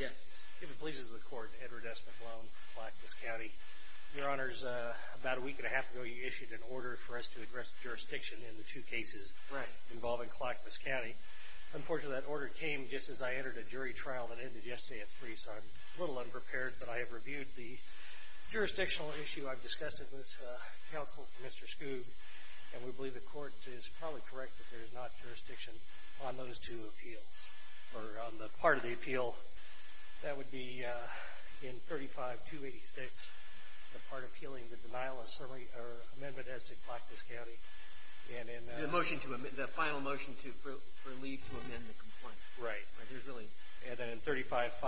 Yes, if it pleases the Court, Edward S. McLellan from Clackamas County. Your Honors, about a week and a half ago, you issued an order for us to address jurisdiction in the two cases involving Clackamas County. Unfortunately, that order came just as I entered a jury trial that ended yesterday at 3, so I'm a little unprepared. But I have reviewed the jurisdictional issue I've discussed with counsel for Mr. Skoog, and we believe the Court is probably correct that there is not jurisdiction on those two appeals, or on the part of the appeal. That would be in 35-286, the part appealing the denial of summary or amendment as to Clackamas County. And in – The motion to – the final motion for leave to amend the complaint. Right. There's really – And then in 35-568,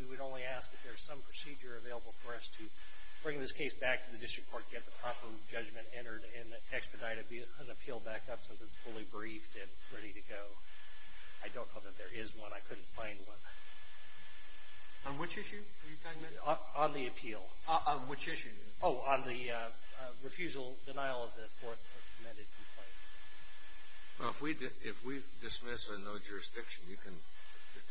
we would only ask that there's some procedure available for us to bring this case back to the District Court and get the proper judgment entered, and expedite an appeal back up since it's fully briefed and ready to go. I don't know that there is one. I couldn't find one. On which issue were you talking about? On the appeal. On which issue? Oh, on the refusal, denial of the Fourth Amendment complaint. Well, if we dismiss a no jurisdiction, you can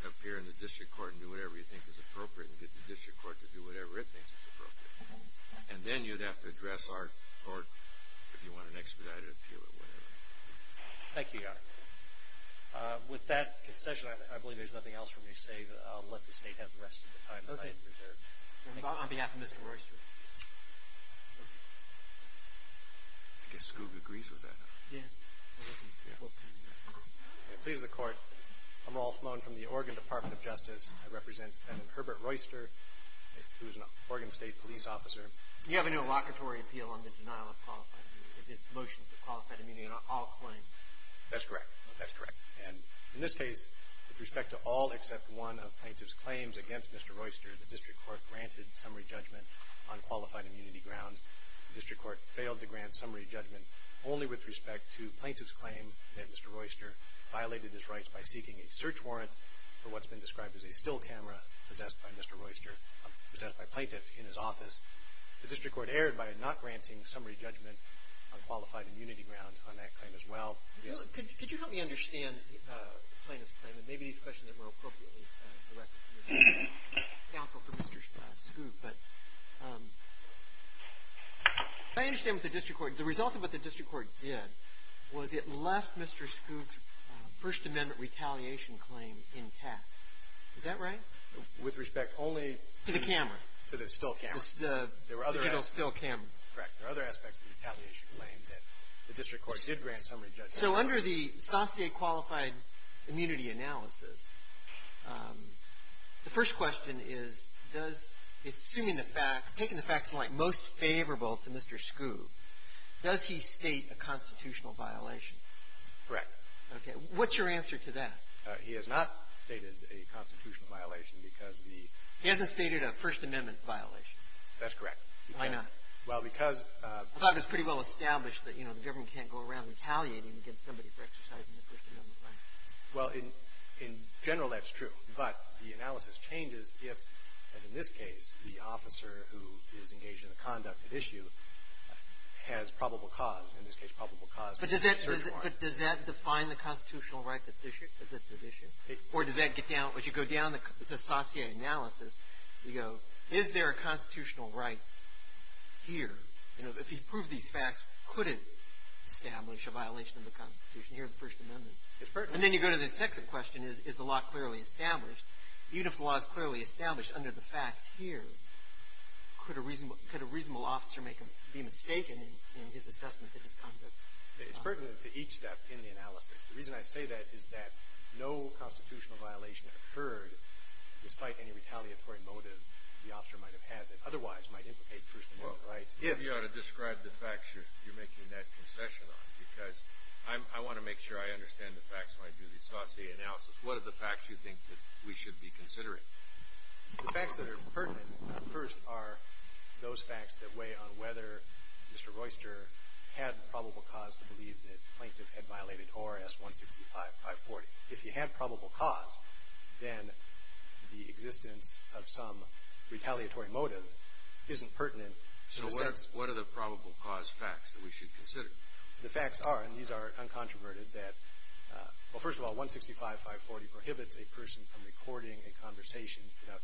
appear in the District Court and do whatever you think is appropriate and get the District Court to do whatever it thinks is appropriate. And then you'd have to address our court if you want an expedited appeal or whatever. Thank you, Your Honor. With that concession, I believe there's nothing else for me to say. I'll let the State have the rest of the time that I have reserved. Okay. On behalf of Mr. Royster. I guess Skoog agrees with that. Yeah. Please, the Court. I'm Rolf Mohn from the Oregon Department of Justice. I represent defendant Herbert Royster, who is an Oregon State police officer. You have a no locatory appeal on the denial of qualified immunity. It's the motion for qualified immunity on all claims. That's correct. That's correct. And in this case, with respect to all except one of plaintiff's claims against Mr. Royster, the District Court granted summary judgment on qualified immunity grounds. The District Court failed to grant summary judgment only with respect to plaintiff's claim that Mr. Royster violated his rights by seeking a search warrant for what's been described as a still camera possessed by Mr. Royster, possessed by a plaintiff in his office. The District Court erred by not granting summary judgment on qualified immunity grounds on that claim as well. Could you help me understand the plaintiff's claim? And maybe these questions are more appropriately directed to Mr. Royster and counsel for Mr. Skoog. But I understand with the District Court, the result of what the District Court did was it left Mr. Skoog first amendment retaliation claim intact. Is that right? With respect only to the camera. To the still camera. The still camera. Correct. There were other aspects of the retaliation claim that the District Court did grant summary judgment. So under the Sancier qualified immunity analysis, the first question is, does assuming the facts, taking the facts in light, most favorable to Mr. Skoog, does he state a constitutional violation? Correct. Okay. What's your answer to that? He has not stated a constitutional violation because the ---- He hasn't stated a first amendment violation. That's correct. Why not? Well, because ---- I thought it was pretty well established that, you know, the government can't go around retaliating against somebody for exercising their first amendment right. Well, in general, that's true. But the analysis changes if, as in this case, the officer who is engaged in the conduct at issue has probable cause. In this case, probable cause is the search warrant. But does that define the constitutional right that's at issue? Or does that get down, as you go down the Sancier analysis, you go, is there a constitutional right here? You know, if he proved these facts, could it establish a violation of the Constitution here in the First Amendment? It certainly could. And then you go to the second question, is the law clearly established? Even if the law is clearly established under the facts here, could a reasonable officer be mistaken in his assessment of his conduct? It's pertinent to each step in the analysis. The reason I say that is that no constitutional violation occurred, despite any retaliatory motive the officer might have had that otherwise might implicate first amendment rights. Well, you ought to describe the facts you're making that concession on, because I want to make sure I understand the facts when I do the Saucier analysis. What are the facts you think that we should be considering? The facts that are pertinent, first, are those facts that weigh on whether Mr. Royster had probable cause to believe that the plaintiff had violated ORS 165540. If he had probable cause, then the existence of some retaliatory motive isn't pertinent. So what are the probable cause facts that we should consider? The facts are, and these are uncontroverted, that, well, first of all,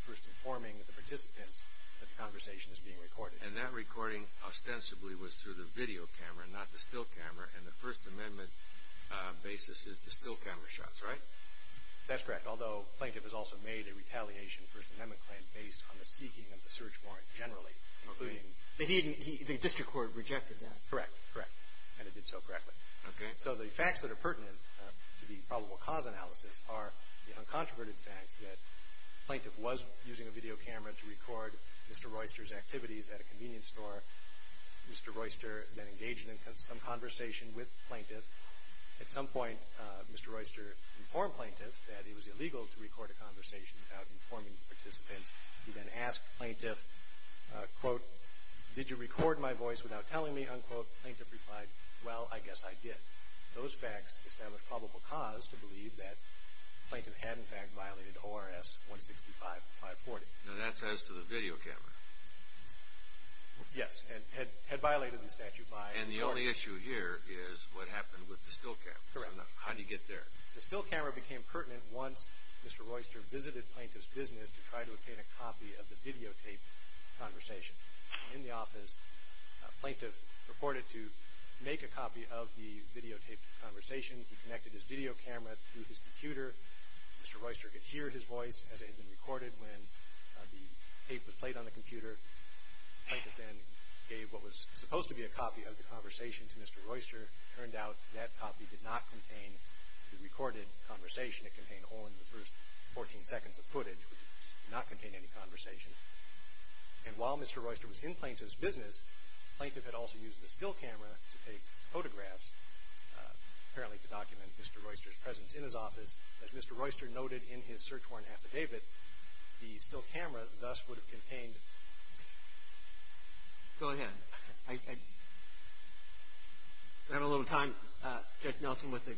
first informing the participants that the conversation is being recorded. And that recording, ostensibly, was through the video camera, not the still camera, and the first amendment basis is the still camera shots, right? That's correct, although the plaintiff has also made a retaliation first amendment claim based on the seeking of the search warrant generally, including... The district court rejected that. Correct, correct, and it did so correctly. Okay. So the facts that are pertinent to the probable cause analysis are the uncontroverted facts that the plaintiff was using a video camera to record Mr. Royster's activities at a convenience store. Mr. Royster then engaged in some conversation with the plaintiff. At some point, Mr. Royster informed the plaintiff that it was illegal to record a conversation without informing the participant. He then asked the plaintiff, quote, Those facts establish probable cause to believe that the plaintiff had, in fact, violated ORS 165540. Now, that's as to the video camera. Yes, and had violated the statute by... And the only issue here is what happened with the still camera. Correct. How did he get there? The still camera became pertinent once Mr. Royster visited the plaintiff's business to try to obtain a copy of the videotaped conversation. In the office, the plaintiff purported to make a copy of the videotaped conversation. He connected his video camera to his computer. Mr. Royster could hear his voice as it had been recorded when the tape was played on the computer. The plaintiff then gave what was supposed to be a copy of the conversation to Mr. Royster. It turned out that copy did not contain the recorded conversation. It contained only the first 14 seconds of footage. It did not contain any conversation. And while Mr. Royster was in Plaintiff's business, the plaintiff had also used the still camera to take photographs, apparently to document Mr. Royster's presence in his office. As Mr. Royster noted in his search warrant affidavit, the still camera thus would have contained... Go ahead. I have a little time. Judge Nelson with the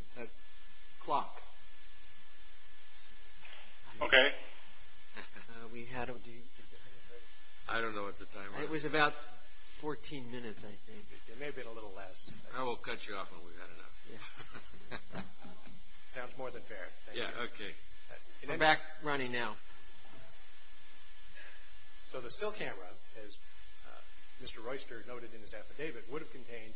clock. Okay. We had... I don't know what the time was. It was about 14 minutes, I think. It may have been a little less. I will cut you off when we've had enough. Sounds more than fair. Yeah, okay. We're back running now. So the still camera, as Mr. Royster noted in his affidavit, would have contained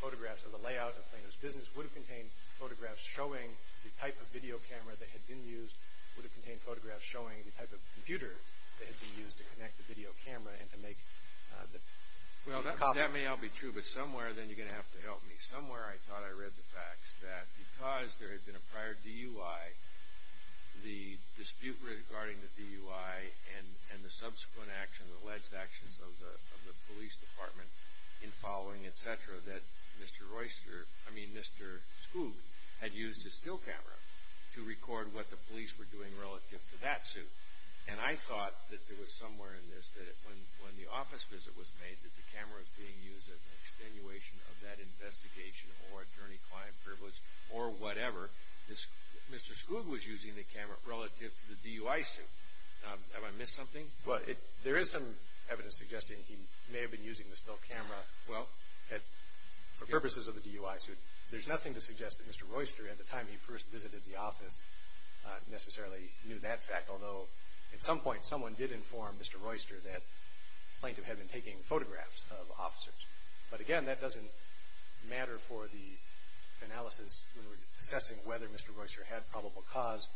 photographs of the layout of Plaintiff's business, would have contained photographs showing the type of video camera that had been used, would have contained photographs showing the type of computer that had been used to connect the video camera and to make the copy. Well, that may all be true, but somewhere, then, you're going to have to help me. Somewhere I thought I read the facts that because there had been a prior DUI, the dispute regarding the DUI and the subsequent action, that Mr. Royster, I mean Mr. Skoog, had used his still camera to record what the police were doing relative to that suit. And I thought that there was somewhere in this that when the office visit was made that the camera was being used as an extenuation of that investigation or attorney-client privilege or whatever, Mr. Skoog was using the camera relative to the DUI suit. Have I missed something? There is some evidence suggesting he may have been using the still camera. Well, for purposes of the DUI suit, there's nothing to suggest that Mr. Royster, at the time he first visited the office, necessarily knew that fact. Although, at some point, someone did inform Mr. Royster that plaintiff had been taking photographs of officers. But again, that doesn't matter for the analysis when we're assessing whether Mr. Royster had probable cause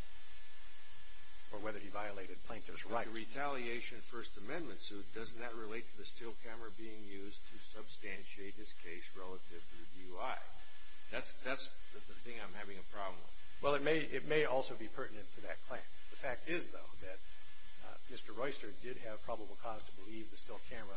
or whether he violated plaintiff's right. Like a retaliation First Amendment suit, doesn't that relate to the still camera being used to substantiate his case relative to DUI? That's the thing I'm having a problem with. Well, it may also be pertinent to that claim. The fact is, though, that Mr. Royster did have probable cause to believe the still camera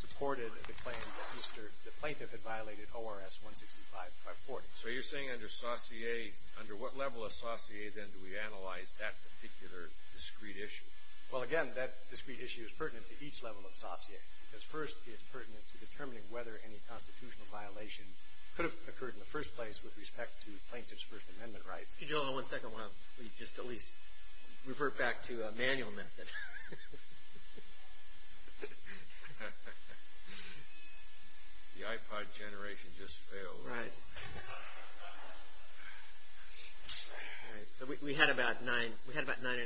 supported the claim that the plaintiff had violated ORS 165540. So you're saying under Saussure, under what level of Saussure, then, do we analyze that particular discrete issue? Well, again, that discrete issue is pertinent to each level of Saussure. But first, it's pertinent to determining whether any constitutional violation could have occurred in the first place with respect to plaintiff's First Amendment rights. Excuse me, gentlemen, one second. I want to just at least revert back to a manual method. The iPod generation just failed. Right. All right. So we had about nine and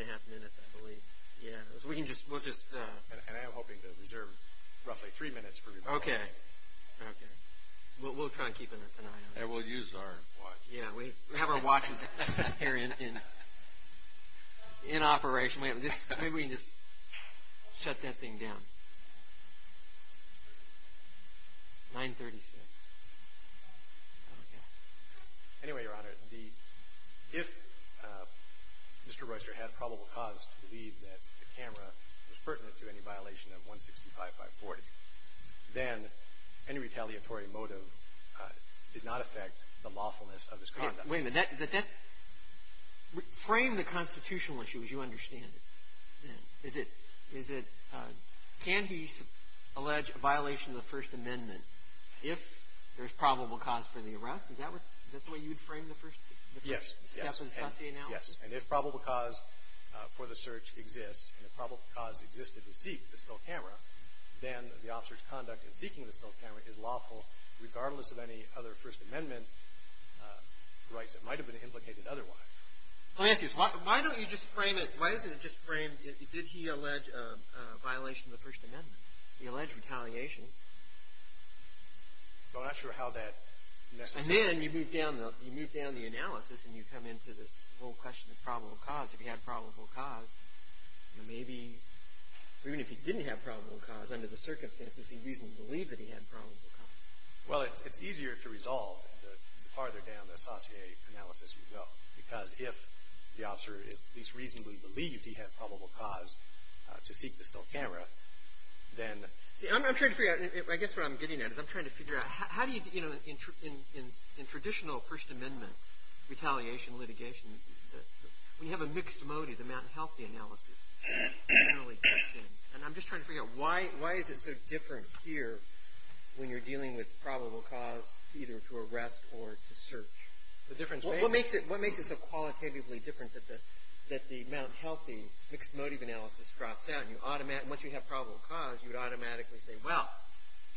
a half minutes, I believe. Yeah. So we can just – we'll just – And I am hoping to reserve roughly three minutes for your – Okay. Okay. We'll try and keep an eye on it. And we'll use our watch. Yeah. We have our watches here in operation. Maybe we can just shut that thing down. 936. Okay. Anyway, Your Honor, if Mr. Royster had probable cause to believe that the camera was pertinent to any violation of 165540, then any retaliatory motive did not affect the lawfulness of his conduct. Wait a minute. That – frame the constitutional issue as you understand it. Is it – can he allege a violation of the First Amendment if there's probable cause for the arrest? Is that what – is that the way you would frame the First – Yes. Yes. And if probable cause for the search exists and if probable cause existed to seek the still camera, then the officer's conduct in seeking the still camera is lawful regardless of any other First Amendment rights that might have been implicated otherwise. Let me ask you this. Why don't you just frame it – why isn't it just framed did he allege a violation of the First Amendment? He alleged retaliation. I'm not sure how that necessarily – And then you move down the – you move down the analysis and you come into this whole question of probable cause. If he had probable cause, maybe – even if he didn't have probable cause, under the circumstances he reasonably believed that he had probable cause. Well, it's easier to resolve the farther down the associate analysis you go because if the officer at least reasonably believed he had probable cause to seek the still camera, then – See, I'm trying to figure out – I guess what I'm getting at is I'm trying to figure out how do you – in traditional First Amendment retaliation litigation, when you have a mixed motive, the Mt. Healthy analysis, you generally push in. And I'm just trying to figure out why is it so different here when you're dealing with probable cause either to arrest or to search? What makes it so qualitatively different that the Mt. Healthy mixed motive analysis drops out and once you have probable cause, you would automatically say, well,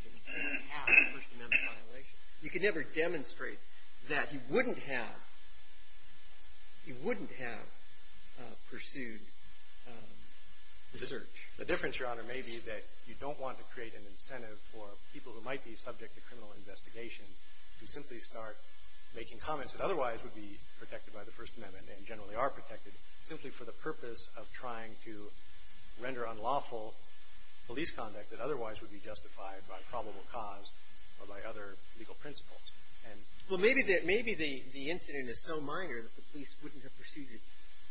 he didn't have a First Amendment violation. You could never demonstrate that he wouldn't have – he wouldn't have pursued the search. The difference, Your Honor, may be that you don't want to create an incentive for people who might be subject to criminal investigation to simply start making comments that otherwise would be protected by the First Amendment and generally are protected simply for the purpose of trying to render unlawful police conduct that otherwise would be justified by probable cause or by other legal principles. Well, maybe the incident is so minor that the police wouldn't have pursued it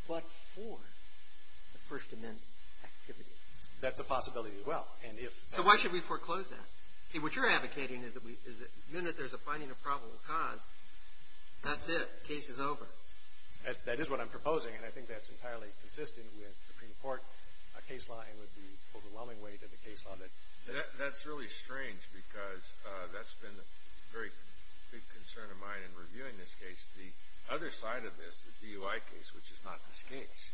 but for the First Amendment activity. That's a possibility as well. So why should we foreclose that? See, what you're advocating is that the minute there's a finding of probable cause, that's it. The case is over. That is what I'm proposing, and I think that's entirely consistent with Supreme Court case law and with the overwhelming weight of the case on it. That's really strange because that's been a very big concern of mine in reviewing this case. The other side of this, the DUI case, which is not this case,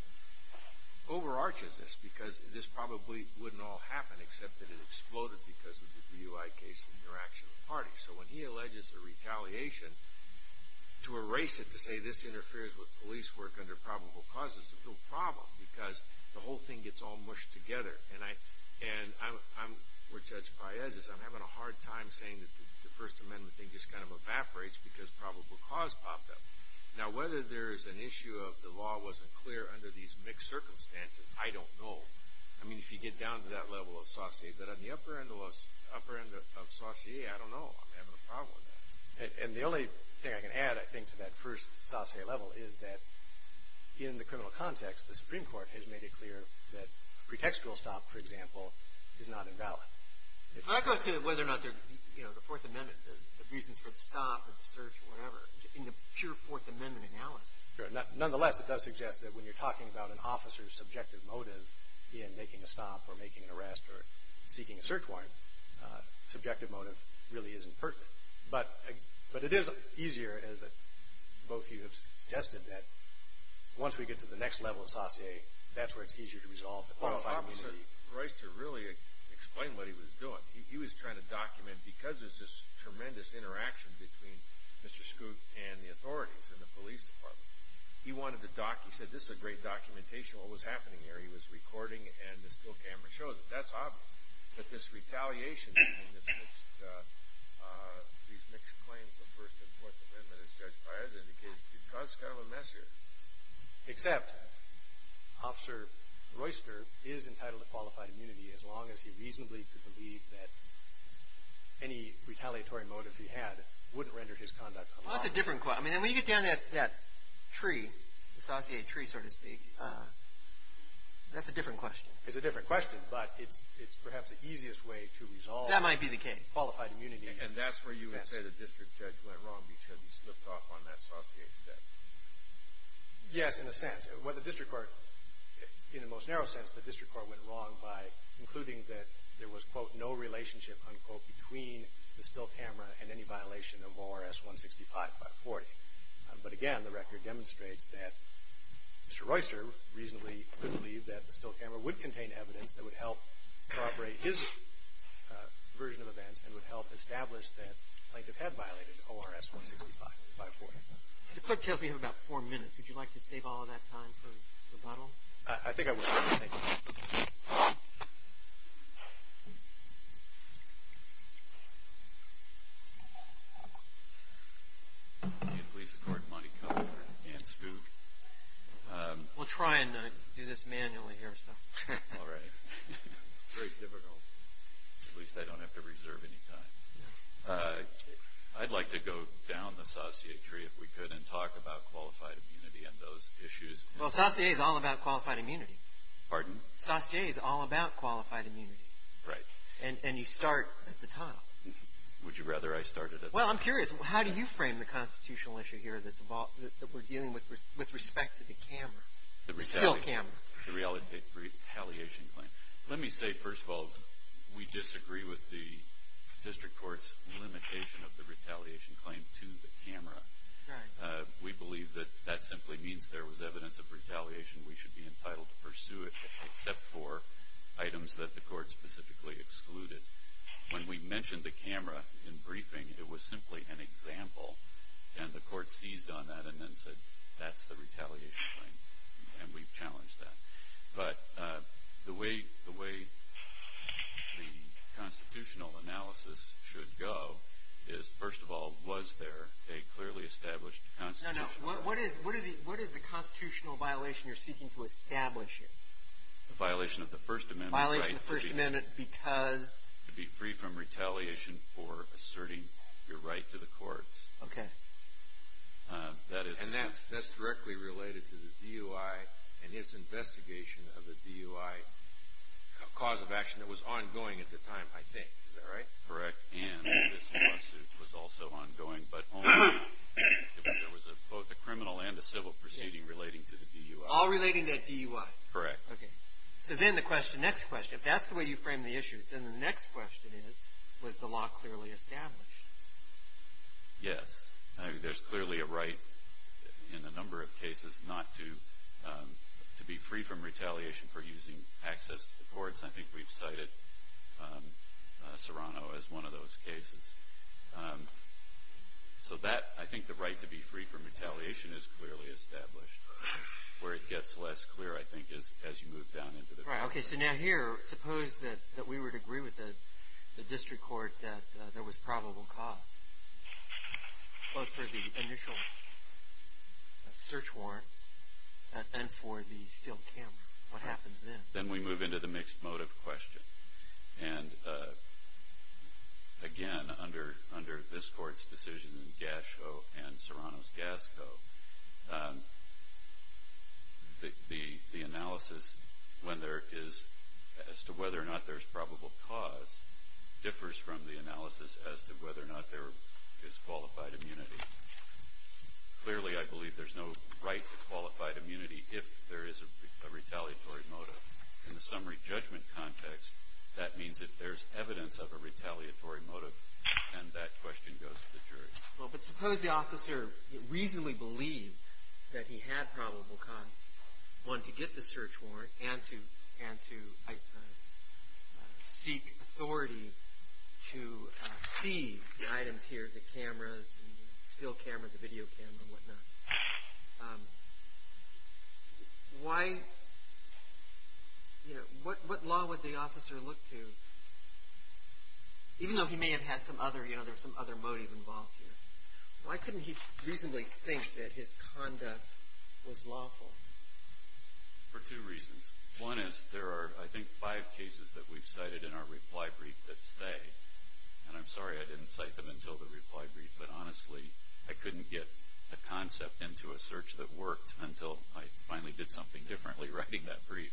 overarches this because this probably wouldn't all happen except that it exploded because of the DUI case interaction with parties. So when he alleges a retaliation to erase it to say this interferes with police work under probable cause, it's a real problem because the whole thing gets all mushed together. And where Judge Paez is, I'm having a hard time saying that the First Amendment thing just kind of evaporates because probable cause popped up. Now, whether there is an issue of the law wasn't clear under these mixed circumstances, I don't know. I mean, if you get down to that level of saucier, but on the upper end of saucier, I don't know. I'm having a problem with that. And the only thing I can add, I think, to that first saucier level is that in the criminal context, the Supreme Court has made it clear that pretextual stop, for example, is not invalid. But that goes to whether or not the Fourth Amendment, the reasons for the stop or the search or whatever in the pure Fourth Amendment analysis. Nonetheless, it does suggest that when you're talking about an officer's subjective motive in making a stop or making an arrest or seeking a search warrant, subjective motive really isn't pertinent. But it is easier, as both of you have suggested, that once we get to the next level of saucier, that's where it's easier to resolve the problem. Well, it's obvious that Reister really explained what he was doing. He was trying to document, because there's this tremendous interaction between Mr. Skoog and the authorities and the police department, he wanted to document. He said, this is a great documentation of what was happening there. He was recording, and this little camera shows it. That's obvious. But this retaliation between these mixed claims of First and Fourth Amendment, as Judge Prior has indicated, it does kind of a mess here. Except Officer Reister is entitled to qualified immunity as long as he reasonably could believe that any retaliatory motive he had wouldn't render his conduct unlawful. Well, that's a different question. I mean, when you get down to that tree, the saucier tree, so to speak, that's a different question. It's a different question, but it's perhaps the easiest way to resolve. That might be the case. Qualified immunity. And that's where you would say the district judge went wrong because he slipped off on that saucier step. Yes, in a sense. Well, the district court, in the most narrow sense, the district court went wrong by concluding that there was, quote, no relationship, unquote, between the still camera and any violation of ORS 165540. But again, the record demonstrates that Mr. Reister reasonably could believe that the still camera would contain evidence that would help corroborate his version of events and would help establish that the plaintiff had violated ORS 165540. The court tells me you have about four minutes. Would you like to save all of that time for rebuttal? I think I would. Thank you. Can you please escort Monty Cutler and Spook? We'll try and do this manually here. All right. Very difficult. At least I don't have to reserve any time. I'd like to go down the saucier tree, if we could, and talk about qualified immunity and those issues. Well, saucier is all about qualified immunity. Pardon? Saucier is all about qualified immunity. And you start at the top. Would you rather I started at the top? Well, I'm curious. How do you frame the constitutional issue here that we're dealing with with respect to the camera, the still camera? The retaliation claim. Let me say, first of all, we disagree with the district court's limitation of the retaliation claim to the camera. Right. We believe that that simply means there was evidence of retaliation. We should be entitled to pursue it except for items that the court specifically excluded. When we mentioned the camera in briefing, it was simply an example, and the court seized on that and then said, that's the retaliation claim, and we've challenged that. But the way the constitutional analysis should go is, first of all, was there a clearly established constitutional? No, no. What is the constitutional violation you're seeking to establish here? The violation of the First Amendment. The violation of the First Amendment because? To be free from retaliation for asserting your right to the courts. Okay. And that's directly related to the DUI and its investigation of the DUI cause of action that was ongoing at the time, I think. Is that right? Correct. And this lawsuit was also ongoing, but only if there was both a criminal and a civil proceeding relating to the DUI. All relating to that DUI. Correct. Okay. So then the question, next question, if that's the way you frame the issue, then the next question is, was the law clearly established? Yes. There's clearly a right in a number of cases not to be free from retaliation for using access to the courts. I think we've cited Serrano as one of those cases. So that, I think the right to be free from retaliation is clearly established. Where it gets less clear, I think, is as you move down into the court. Right. Okay. So now here, suppose that we would agree with the district court that there was probable cause, both for the initial search warrant and for the stilled camera. What happens then? Then we move into the mixed motive question. And, again, under this court's decision in Gasco and Serrano's Gasco, the analysis when there is, as to whether or not there's probable cause, differs from the analysis as to whether or not there is qualified immunity. Clearly, I believe there's no right to qualified immunity if there is a retaliatory motive. In the summary judgment context, that means if there's evidence of a retaliatory motive, then that question goes to the jury. Well, but suppose the officer reasonably believed that he had probable cause, one, to get the search warrant and to seek authority to seize the items here, the cameras, the still camera, the video camera and whatnot. Why, you know, what law would the officer look to, even though he may have had some other, you know, there was some other motive involved here? Why couldn't he reasonably think that his conduct was lawful? For two reasons. One is there are, I think, five cases that we've cited in our reply brief that say, and I'm sorry I didn't cite them until the reply brief, but, honestly, I couldn't get a concept into a search that worked until I finally did something differently writing that brief.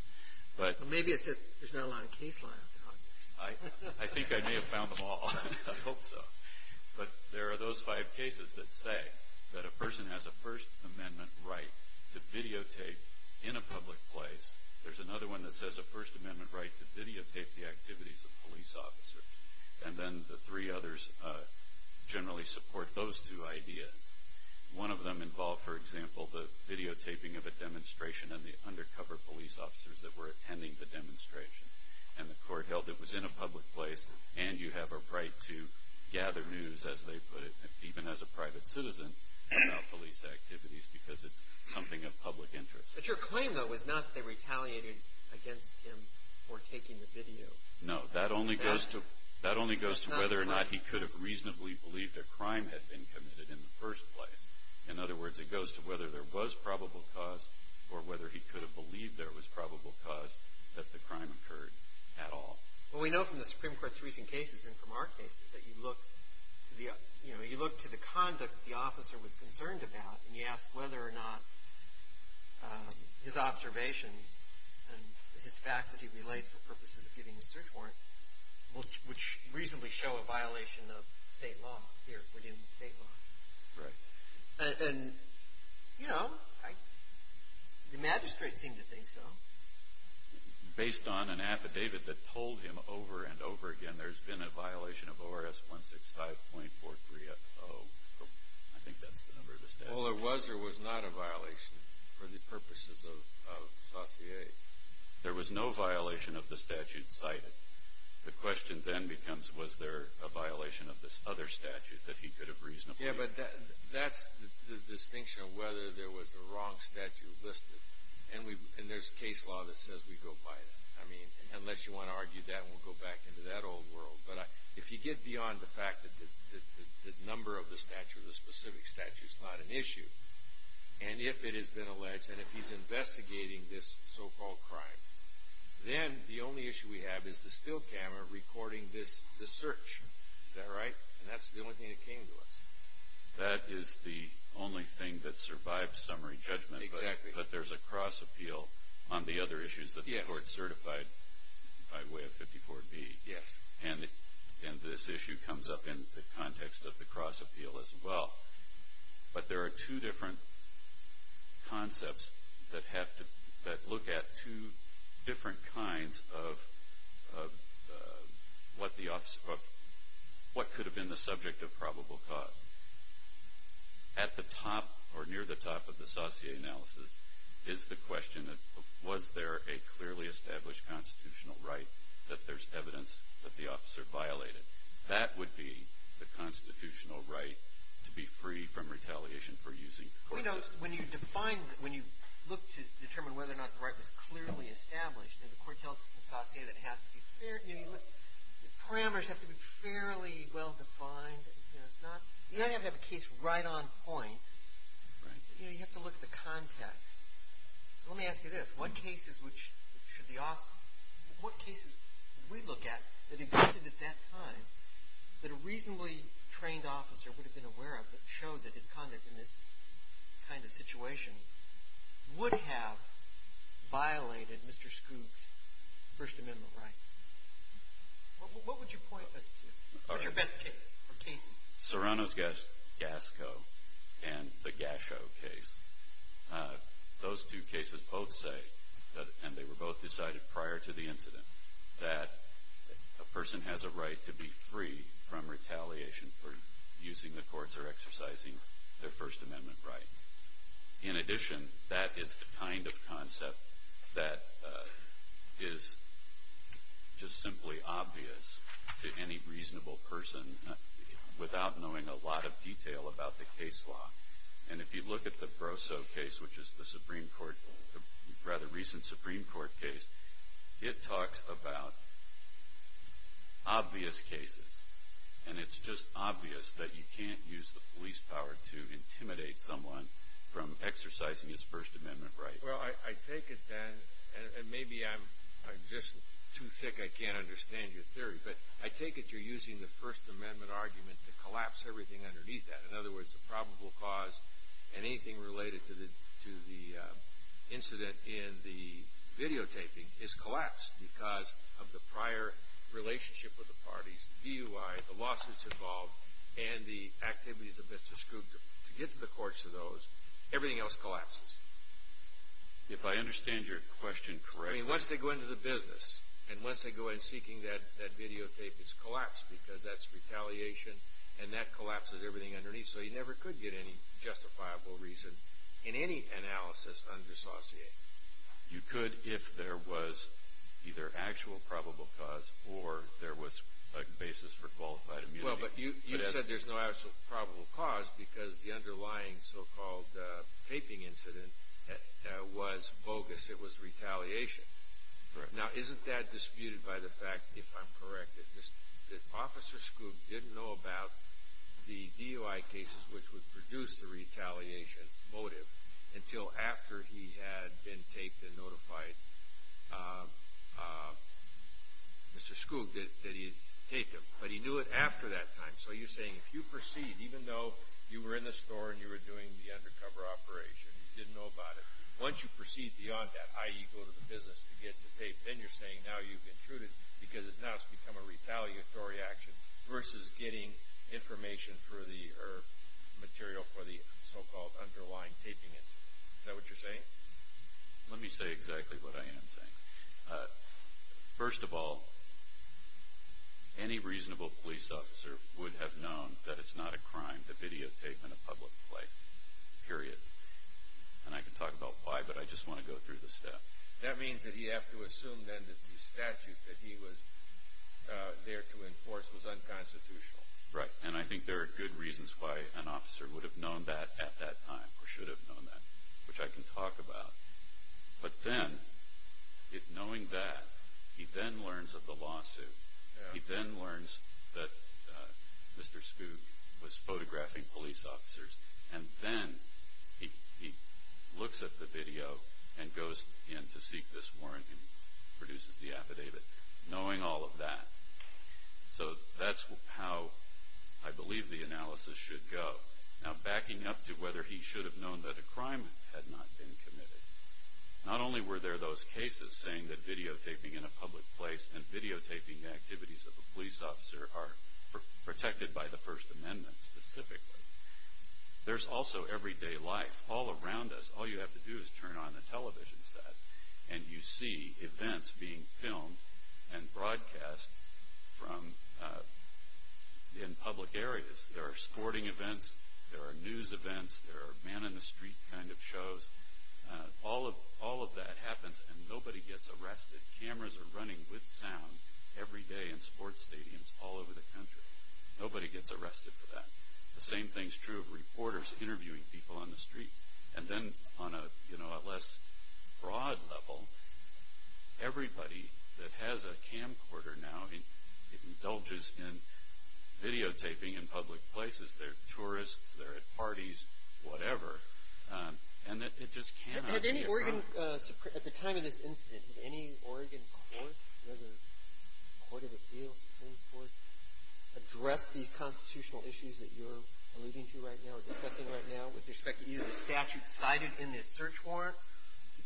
Well, maybe it's that there's not a lot of case law out there on this. I think I may have found them all. I hope so. But there are those five cases that say that a person has a First Amendment right to videotape in a public place. There's another one that says a First Amendment right to videotape the activities of police officers. And then the three others generally support those two ideas. One of them involved, for example, the videotaping of a demonstration and the undercover police officers that were attending the demonstration. And the court held it was in a public place and you have a right to gather news, as they put it, even as a private citizen about police activities because it's something of public interest. But your claim, though, was not that they retaliated against him for taking the video. No. That only goes to whether or not he could have reasonably believed a crime had been committed in the first place. In other words, it goes to whether there was probable cause or whether he could have believed there was probable cause that the crime occurred at all. Well, we know from the Supreme Court's recent cases and from our cases that you look to the conduct the officer was concerned about and you ask whether or not his observations and his facts that he relates for purposes of getting a search warrant would reasonably show a violation of state law here within state law. Right. And, you know, the magistrate seemed to think so. Based on an affidavit that told him over and over again there's been a violation of ORS 165.43-0. I think that's the number of the statute. Well, there was or was not a violation for the purposes of Saussure. There was no violation of the statute cited. The question then becomes was there a violation of this other statute that he could have reasonably believed. Yeah, but that's the distinction of whether there was a wrong statute listed. And there's case law that says we go by it. I mean, unless you want to argue that and we'll go back into that old world. But if you get beyond the fact that the number of the statute or the specific statute is not an issue, and if it has been alleged and if he's investigating this so-called crime, then the only issue we have is the still camera recording this search. Is that right? And that's the only thing that came to us. That is the only thing that survived summary judgment. Exactly. But there's a cross appeal on the other issues that the court certified by way of 54B. Yes. And this issue comes up in the context of the cross appeal as well. But there are two different concepts that look at two different kinds of what could have been the subject of probable cause. At the top or near the top of the Saussure analysis is the question of was there a clearly established constitutional right that there's evidence that the officer violated. That would be the constitutional right to be free from retaliation for using the court system. When you look to determine whether or not the right was clearly established, the court tells us in Saussure that parameters have to be fairly well defined. You don't have to have a case right on point. Right. You have to look at the context. So let me ask you this. What cases would we look at that existed at that time that a reasonably trained officer would have been aware of that showed that his conduct in this kind of situation would have violated Mr. Scoop's First Amendment right? What would you point us to? What's your best case or cases? Serrano's Gasco and the Gasho case. Those two cases both say, and they were both decided prior to the incident, that a person has a right to be free from retaliation for using the courts or exercising their First Amendment rights. In addition, that is the kind of concept that is just simply obvious to any reasonable person without knowing a lot of detail about the case law. And if you look at the Brosseau case, which is the Supreme Court, the rather recent Supreme Court case, it talks about obvious cases. And it's just obvious that you can't use the police power to intimidate someone from exercising his First Amendment right. Well, I take it then, and maybe I'm just too thick, I can't understand your theory, but I take it you're using the First Amendment argument to collapse everything underneath that. In other words, the probable cause and anything related to the incident in the videotaping is collapsed because of the prior relationship with the parties, DUI, the lawsuits involved, and the activities of Mr. Scoop to get to the courts of those. Everything else collapses. If I understand your question correctly. I mean, once they go into the business, and once they go in seeking that videotape, it's collapsed because that's retaliation, and that collapses everything underneath. So you never could get any justifiable reason in any analysis undissociated. You could if there was either actual probable cause or there was a basis for qualified immunity. Well, but you said there's no actual probable cause because the underlying so-called taping incident was bogus. It was retaliation. Now, isn't that disputed by the fact, if I'm correct, that Officer Scoop didn't know about the DUI cases which would produce the retaliation motive until after he had been taped and notified Mr. Scoop that he had taped him, but he knew it after that time. So you're saying if you proceed, even though you were in the store and you were doing the undercover operation, and you didn't know about it, once you proceed beyond that, i.e., go to the business to get the tape, then you're saying now you've intruded because now it's become a retaliatory action versus getting information or material for the so-called underlying taping incident. Is that what you're saying? Let me say exactly what I am saying. First of all, any reasonable police officer would have known that it's not a crime to videotape in a public place. Period. And I can talk about why, but I just want to go through the steps. That means that he'd have to assume then that the statute that he was there to enforce was unconstitutional. Right. And I think there are good reasons why an officer would have known that at that time or should have known that, which I can talk about. But then, knowing that, he then learns of the lawsuit. He then learns that Mr. Scoog was photographing police officers, and then he looks at the video and goes in to seek this warrant and produces the affidavit, knowing all of that. So that's how I believe the analysis should go. Now, backing up to whether he should have known that a crime had not been committed, not only were there those cases saying that videotaping in a public place and videotaping the activities of a police officer are protected by the First Amendment specifically, there's also everyday life. All around us, all you have to do is turn on the television set, and you see events being filmed and broadcast in public areas. There are sporting events. There are news events. There are man-in-the-street kind of shows. All of that happens, and nobody gets arrested. Cameras are running with sound every day in sports stadiums all over the country. Nobody gets arrested for that. The same thing is true of reporters interviewing people on the street. And then on a less broad level, everybody that has a camcorder now indulges in videotaping in public places. They're tourists. They're at parties, whatever. And it just cannot be a crime. At the time of this incident, did any Oregon court, whether court of appeals, Supreme Court, address these constitutional issues that you're alluding to right now or discussing right now with respect to either the statute cited in this search warrant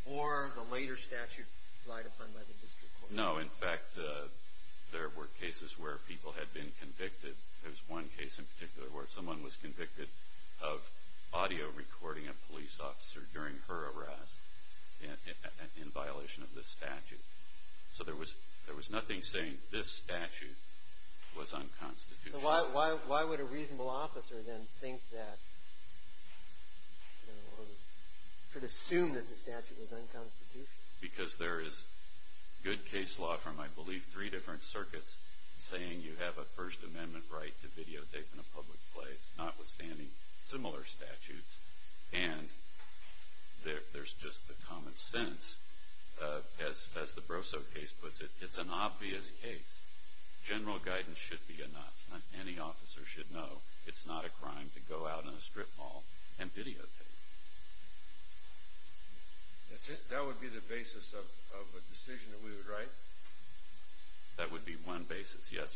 or the later statute relied upon by the district court? No. In fact, there were cases where people had been convicted. There was one case in particular where someone was convicted of audio recording a police officer during her arrest in violation of this statute. So there was nothing saying this statute was unconstitutional. Why would a reasonable officer then think that or should assume that the statute was unconstitutional? Because there is good case law from, I believe, three different circuits saying you have a First Amendment right to videotape in a public place, notwithstanding similar statutes. And there's just the common sense, as the Broso case puts it. It's an obvious case. General guidance should be enough. Any officer should know it's not a crime to go out in a strip mall and videotape. That would be the basis of a decision that we would write? That would be one basis, yes.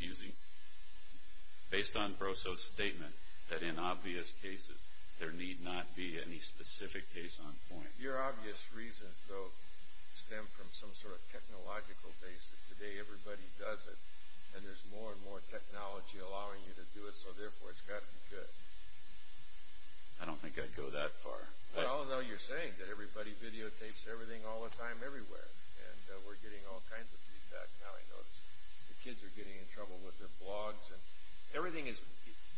Based on Broso's statement that in obvious cases there need not be any specific case on point. Your obvious reasons, though, stem from some sort of technological basis. Today everybody does it, and there's more and more technology allowing you to do it, so therefore it's got to be good. I don't think I'd go that far. Well, although you're saying that everybody videotapes everything all the time everywhere, and we're getting all kinds of feedback now, I notice. The kids are getting in trouble with their blogs, and everything is—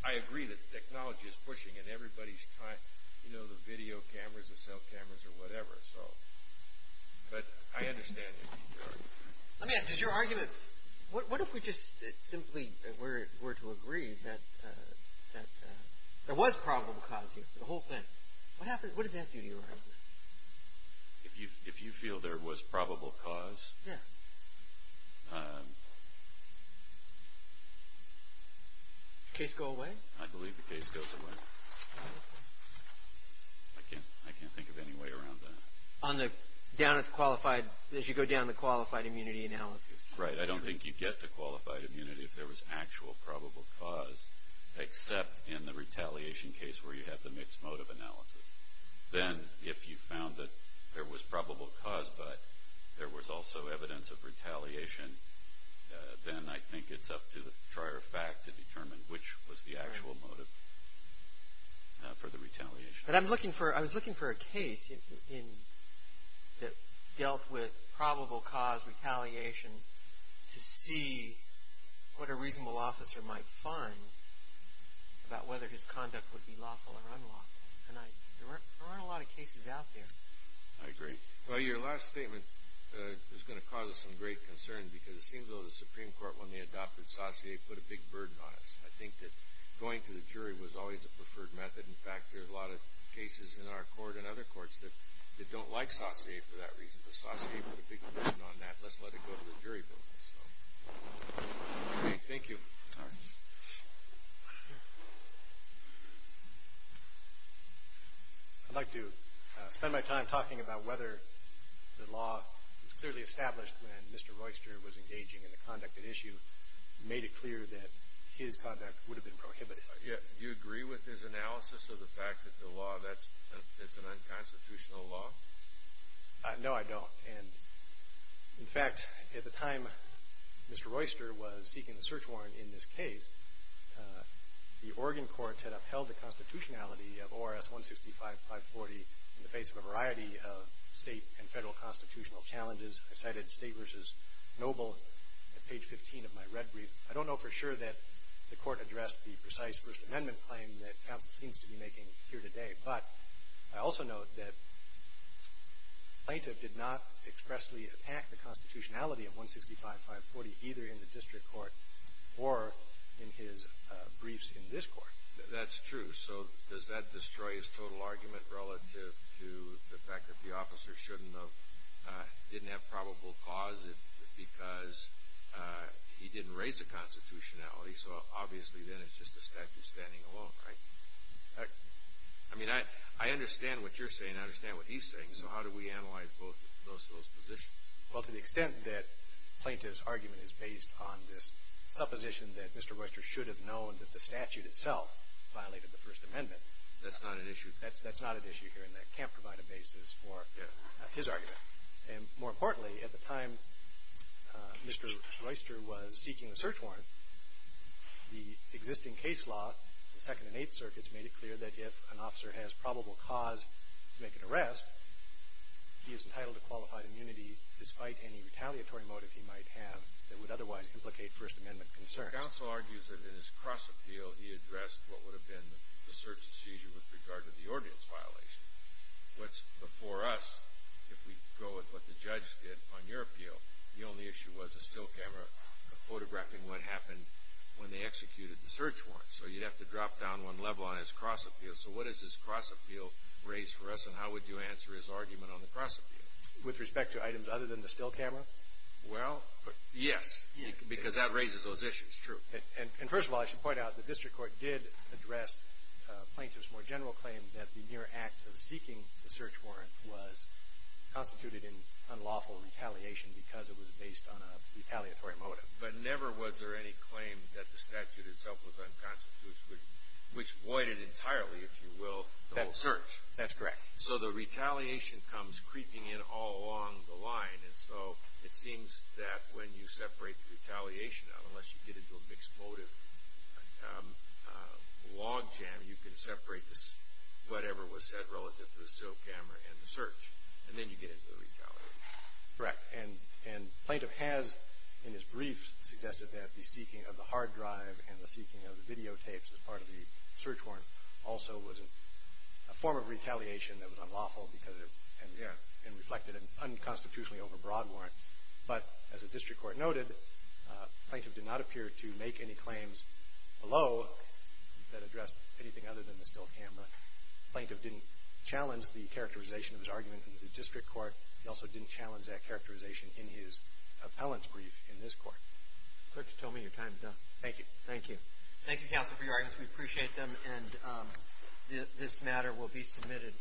I agree that technology is pushing in everybody's time, you know, the video cameras, the cell cameras, or whatever. But I understand your argument. Let me ask, does your argument— what if we just simply were to agree that there was probable cause here, the whole thing? What does that do to your argument? If you feel there was probable cause— Yes. Does the case go away? I believe the case goes away. I can't think of any way around that. On the—down at the qualified—as you go down the qualified immunity analysis. Right, I don't think you'd get to qualified immunity if there was actual probable cause, except in the retaliation case where you have the mixed motive analysis. Then, if you found that there was probable cause, but there was also evidence of retaliation, then I think it's up to the prior fact to determine which was the actual motive for the retaliation. But I'm looking for—I was looking for a case that dealt with probable cause retaliation to see what a reasonable officer might find about whether his conduct would be lawful or unlawful. And there weren't a lot of cases out there. I agree. Well, your last statement is going to cause us some great concern, because it seems, though, the Supreme Court, when they adopted Saussure, put a big burden on us. I think that going to the jury was always a preferred method. In fact, there are a lot of cases in our court and other courts that don't like Saussure for that reason. But Saussure put a big burden on that. Let's let it go to the jury. Thank you. All right. I'd like to spend my time talking about whether the law was clearly established when Mr. Royster was engaging in the conduct at issue, made it clear that his conduct would have been prohibited. Do you agree with his analysis of the fact that the law, that it's an unconstitutional law? No, I don't. And in fact, at the time Mr. Royster was seeking the search warrant in this case, the Oregon courts had upheld the constitutionality of ORS 165540 in the face of a variety of state and federal constitutional challenges. I cited State v. Noble at page 15 of my red brief. I don't know for sure that the court addressed the precise First Amendment claim that counsel seems to be making here today. But I also note that the plaintiff did not expressly attack the constitutionality of 165540, either in the district court or in his briefs in this court. That's true. So does that destroy his total argument relative to the fact that the officer shouldn't have, didn't have probable cause because he didn't raise the constitutionality? So obviously then it's just a statute standing alone, right? I mean, I understand what you're saying. I understand what he's saying. So how do we analyze both of those positions? Well, to the extent that plaintiff's argument is based on this supposition that Mr. Royster should have known that the statute itself violated the First Amendment. That's not an issue. And that can't provide a basis for his argument. And more importantly, at the time Mr. Royster was seeking a search warrant, the existing case law, the Second and Eighth Circuits, made it clear that if an officer has probable cause to make an arrest, he is entitled to qualified immunity despite any retaliatory motive he might have that would otherwise implicate First Amendment concern. The counsel argues that in his cross-appeal he addressed what would have been the search and seizure with regard to the ordnance violation. What's before us, if we go with what the judge did on your appeal, the only issue was the still camera photographing what happened when they executed the search warrant. So you'd have to drop down one level on his cross-appeal. So what does his cross-appeal raise for us, and how would you answer his argument on the cross-appeal? With respect to items other than the still camera? Well, yes, because that raises those issues, true. And first of all, I should point out the district court did address plaintiff's more general claim that the mere act of seeking the search warrant was constituted in unlawful retaliation because it was based on a retaliatory motive. But never was there any claim that the statute itself was unconstitutional, which voided entirely, if you will, the whole search. That's correct. So the retaliation comes creeping in all along the line, and so it seems that when you separate the retaliation out, unless you get into a mixed motive logjam, you can separate whatever was said relative to the still camera and the search, and then you get into the retaliation. Correct. And plaintiff has, in his brief, suggested that the seeking of the hard drive and the seeking of the videotapes as part of the search warrant also was a form of retaliation that was unlawful and reflected an unconstitutionally overbroad warrant. But as the district court noted, plaintiff did not appear to make any claims below that addressed anything other than the still camera. Plaintiff didn't challenge the characterization of his argument in the district court. He also didn't challenge that characterization in his appellant's brief in this court. Clerk, you told me your time is up. Thank you. Thank you. Thank you, counsel, for your arguments. We appreciate them, and this matter will be submitted.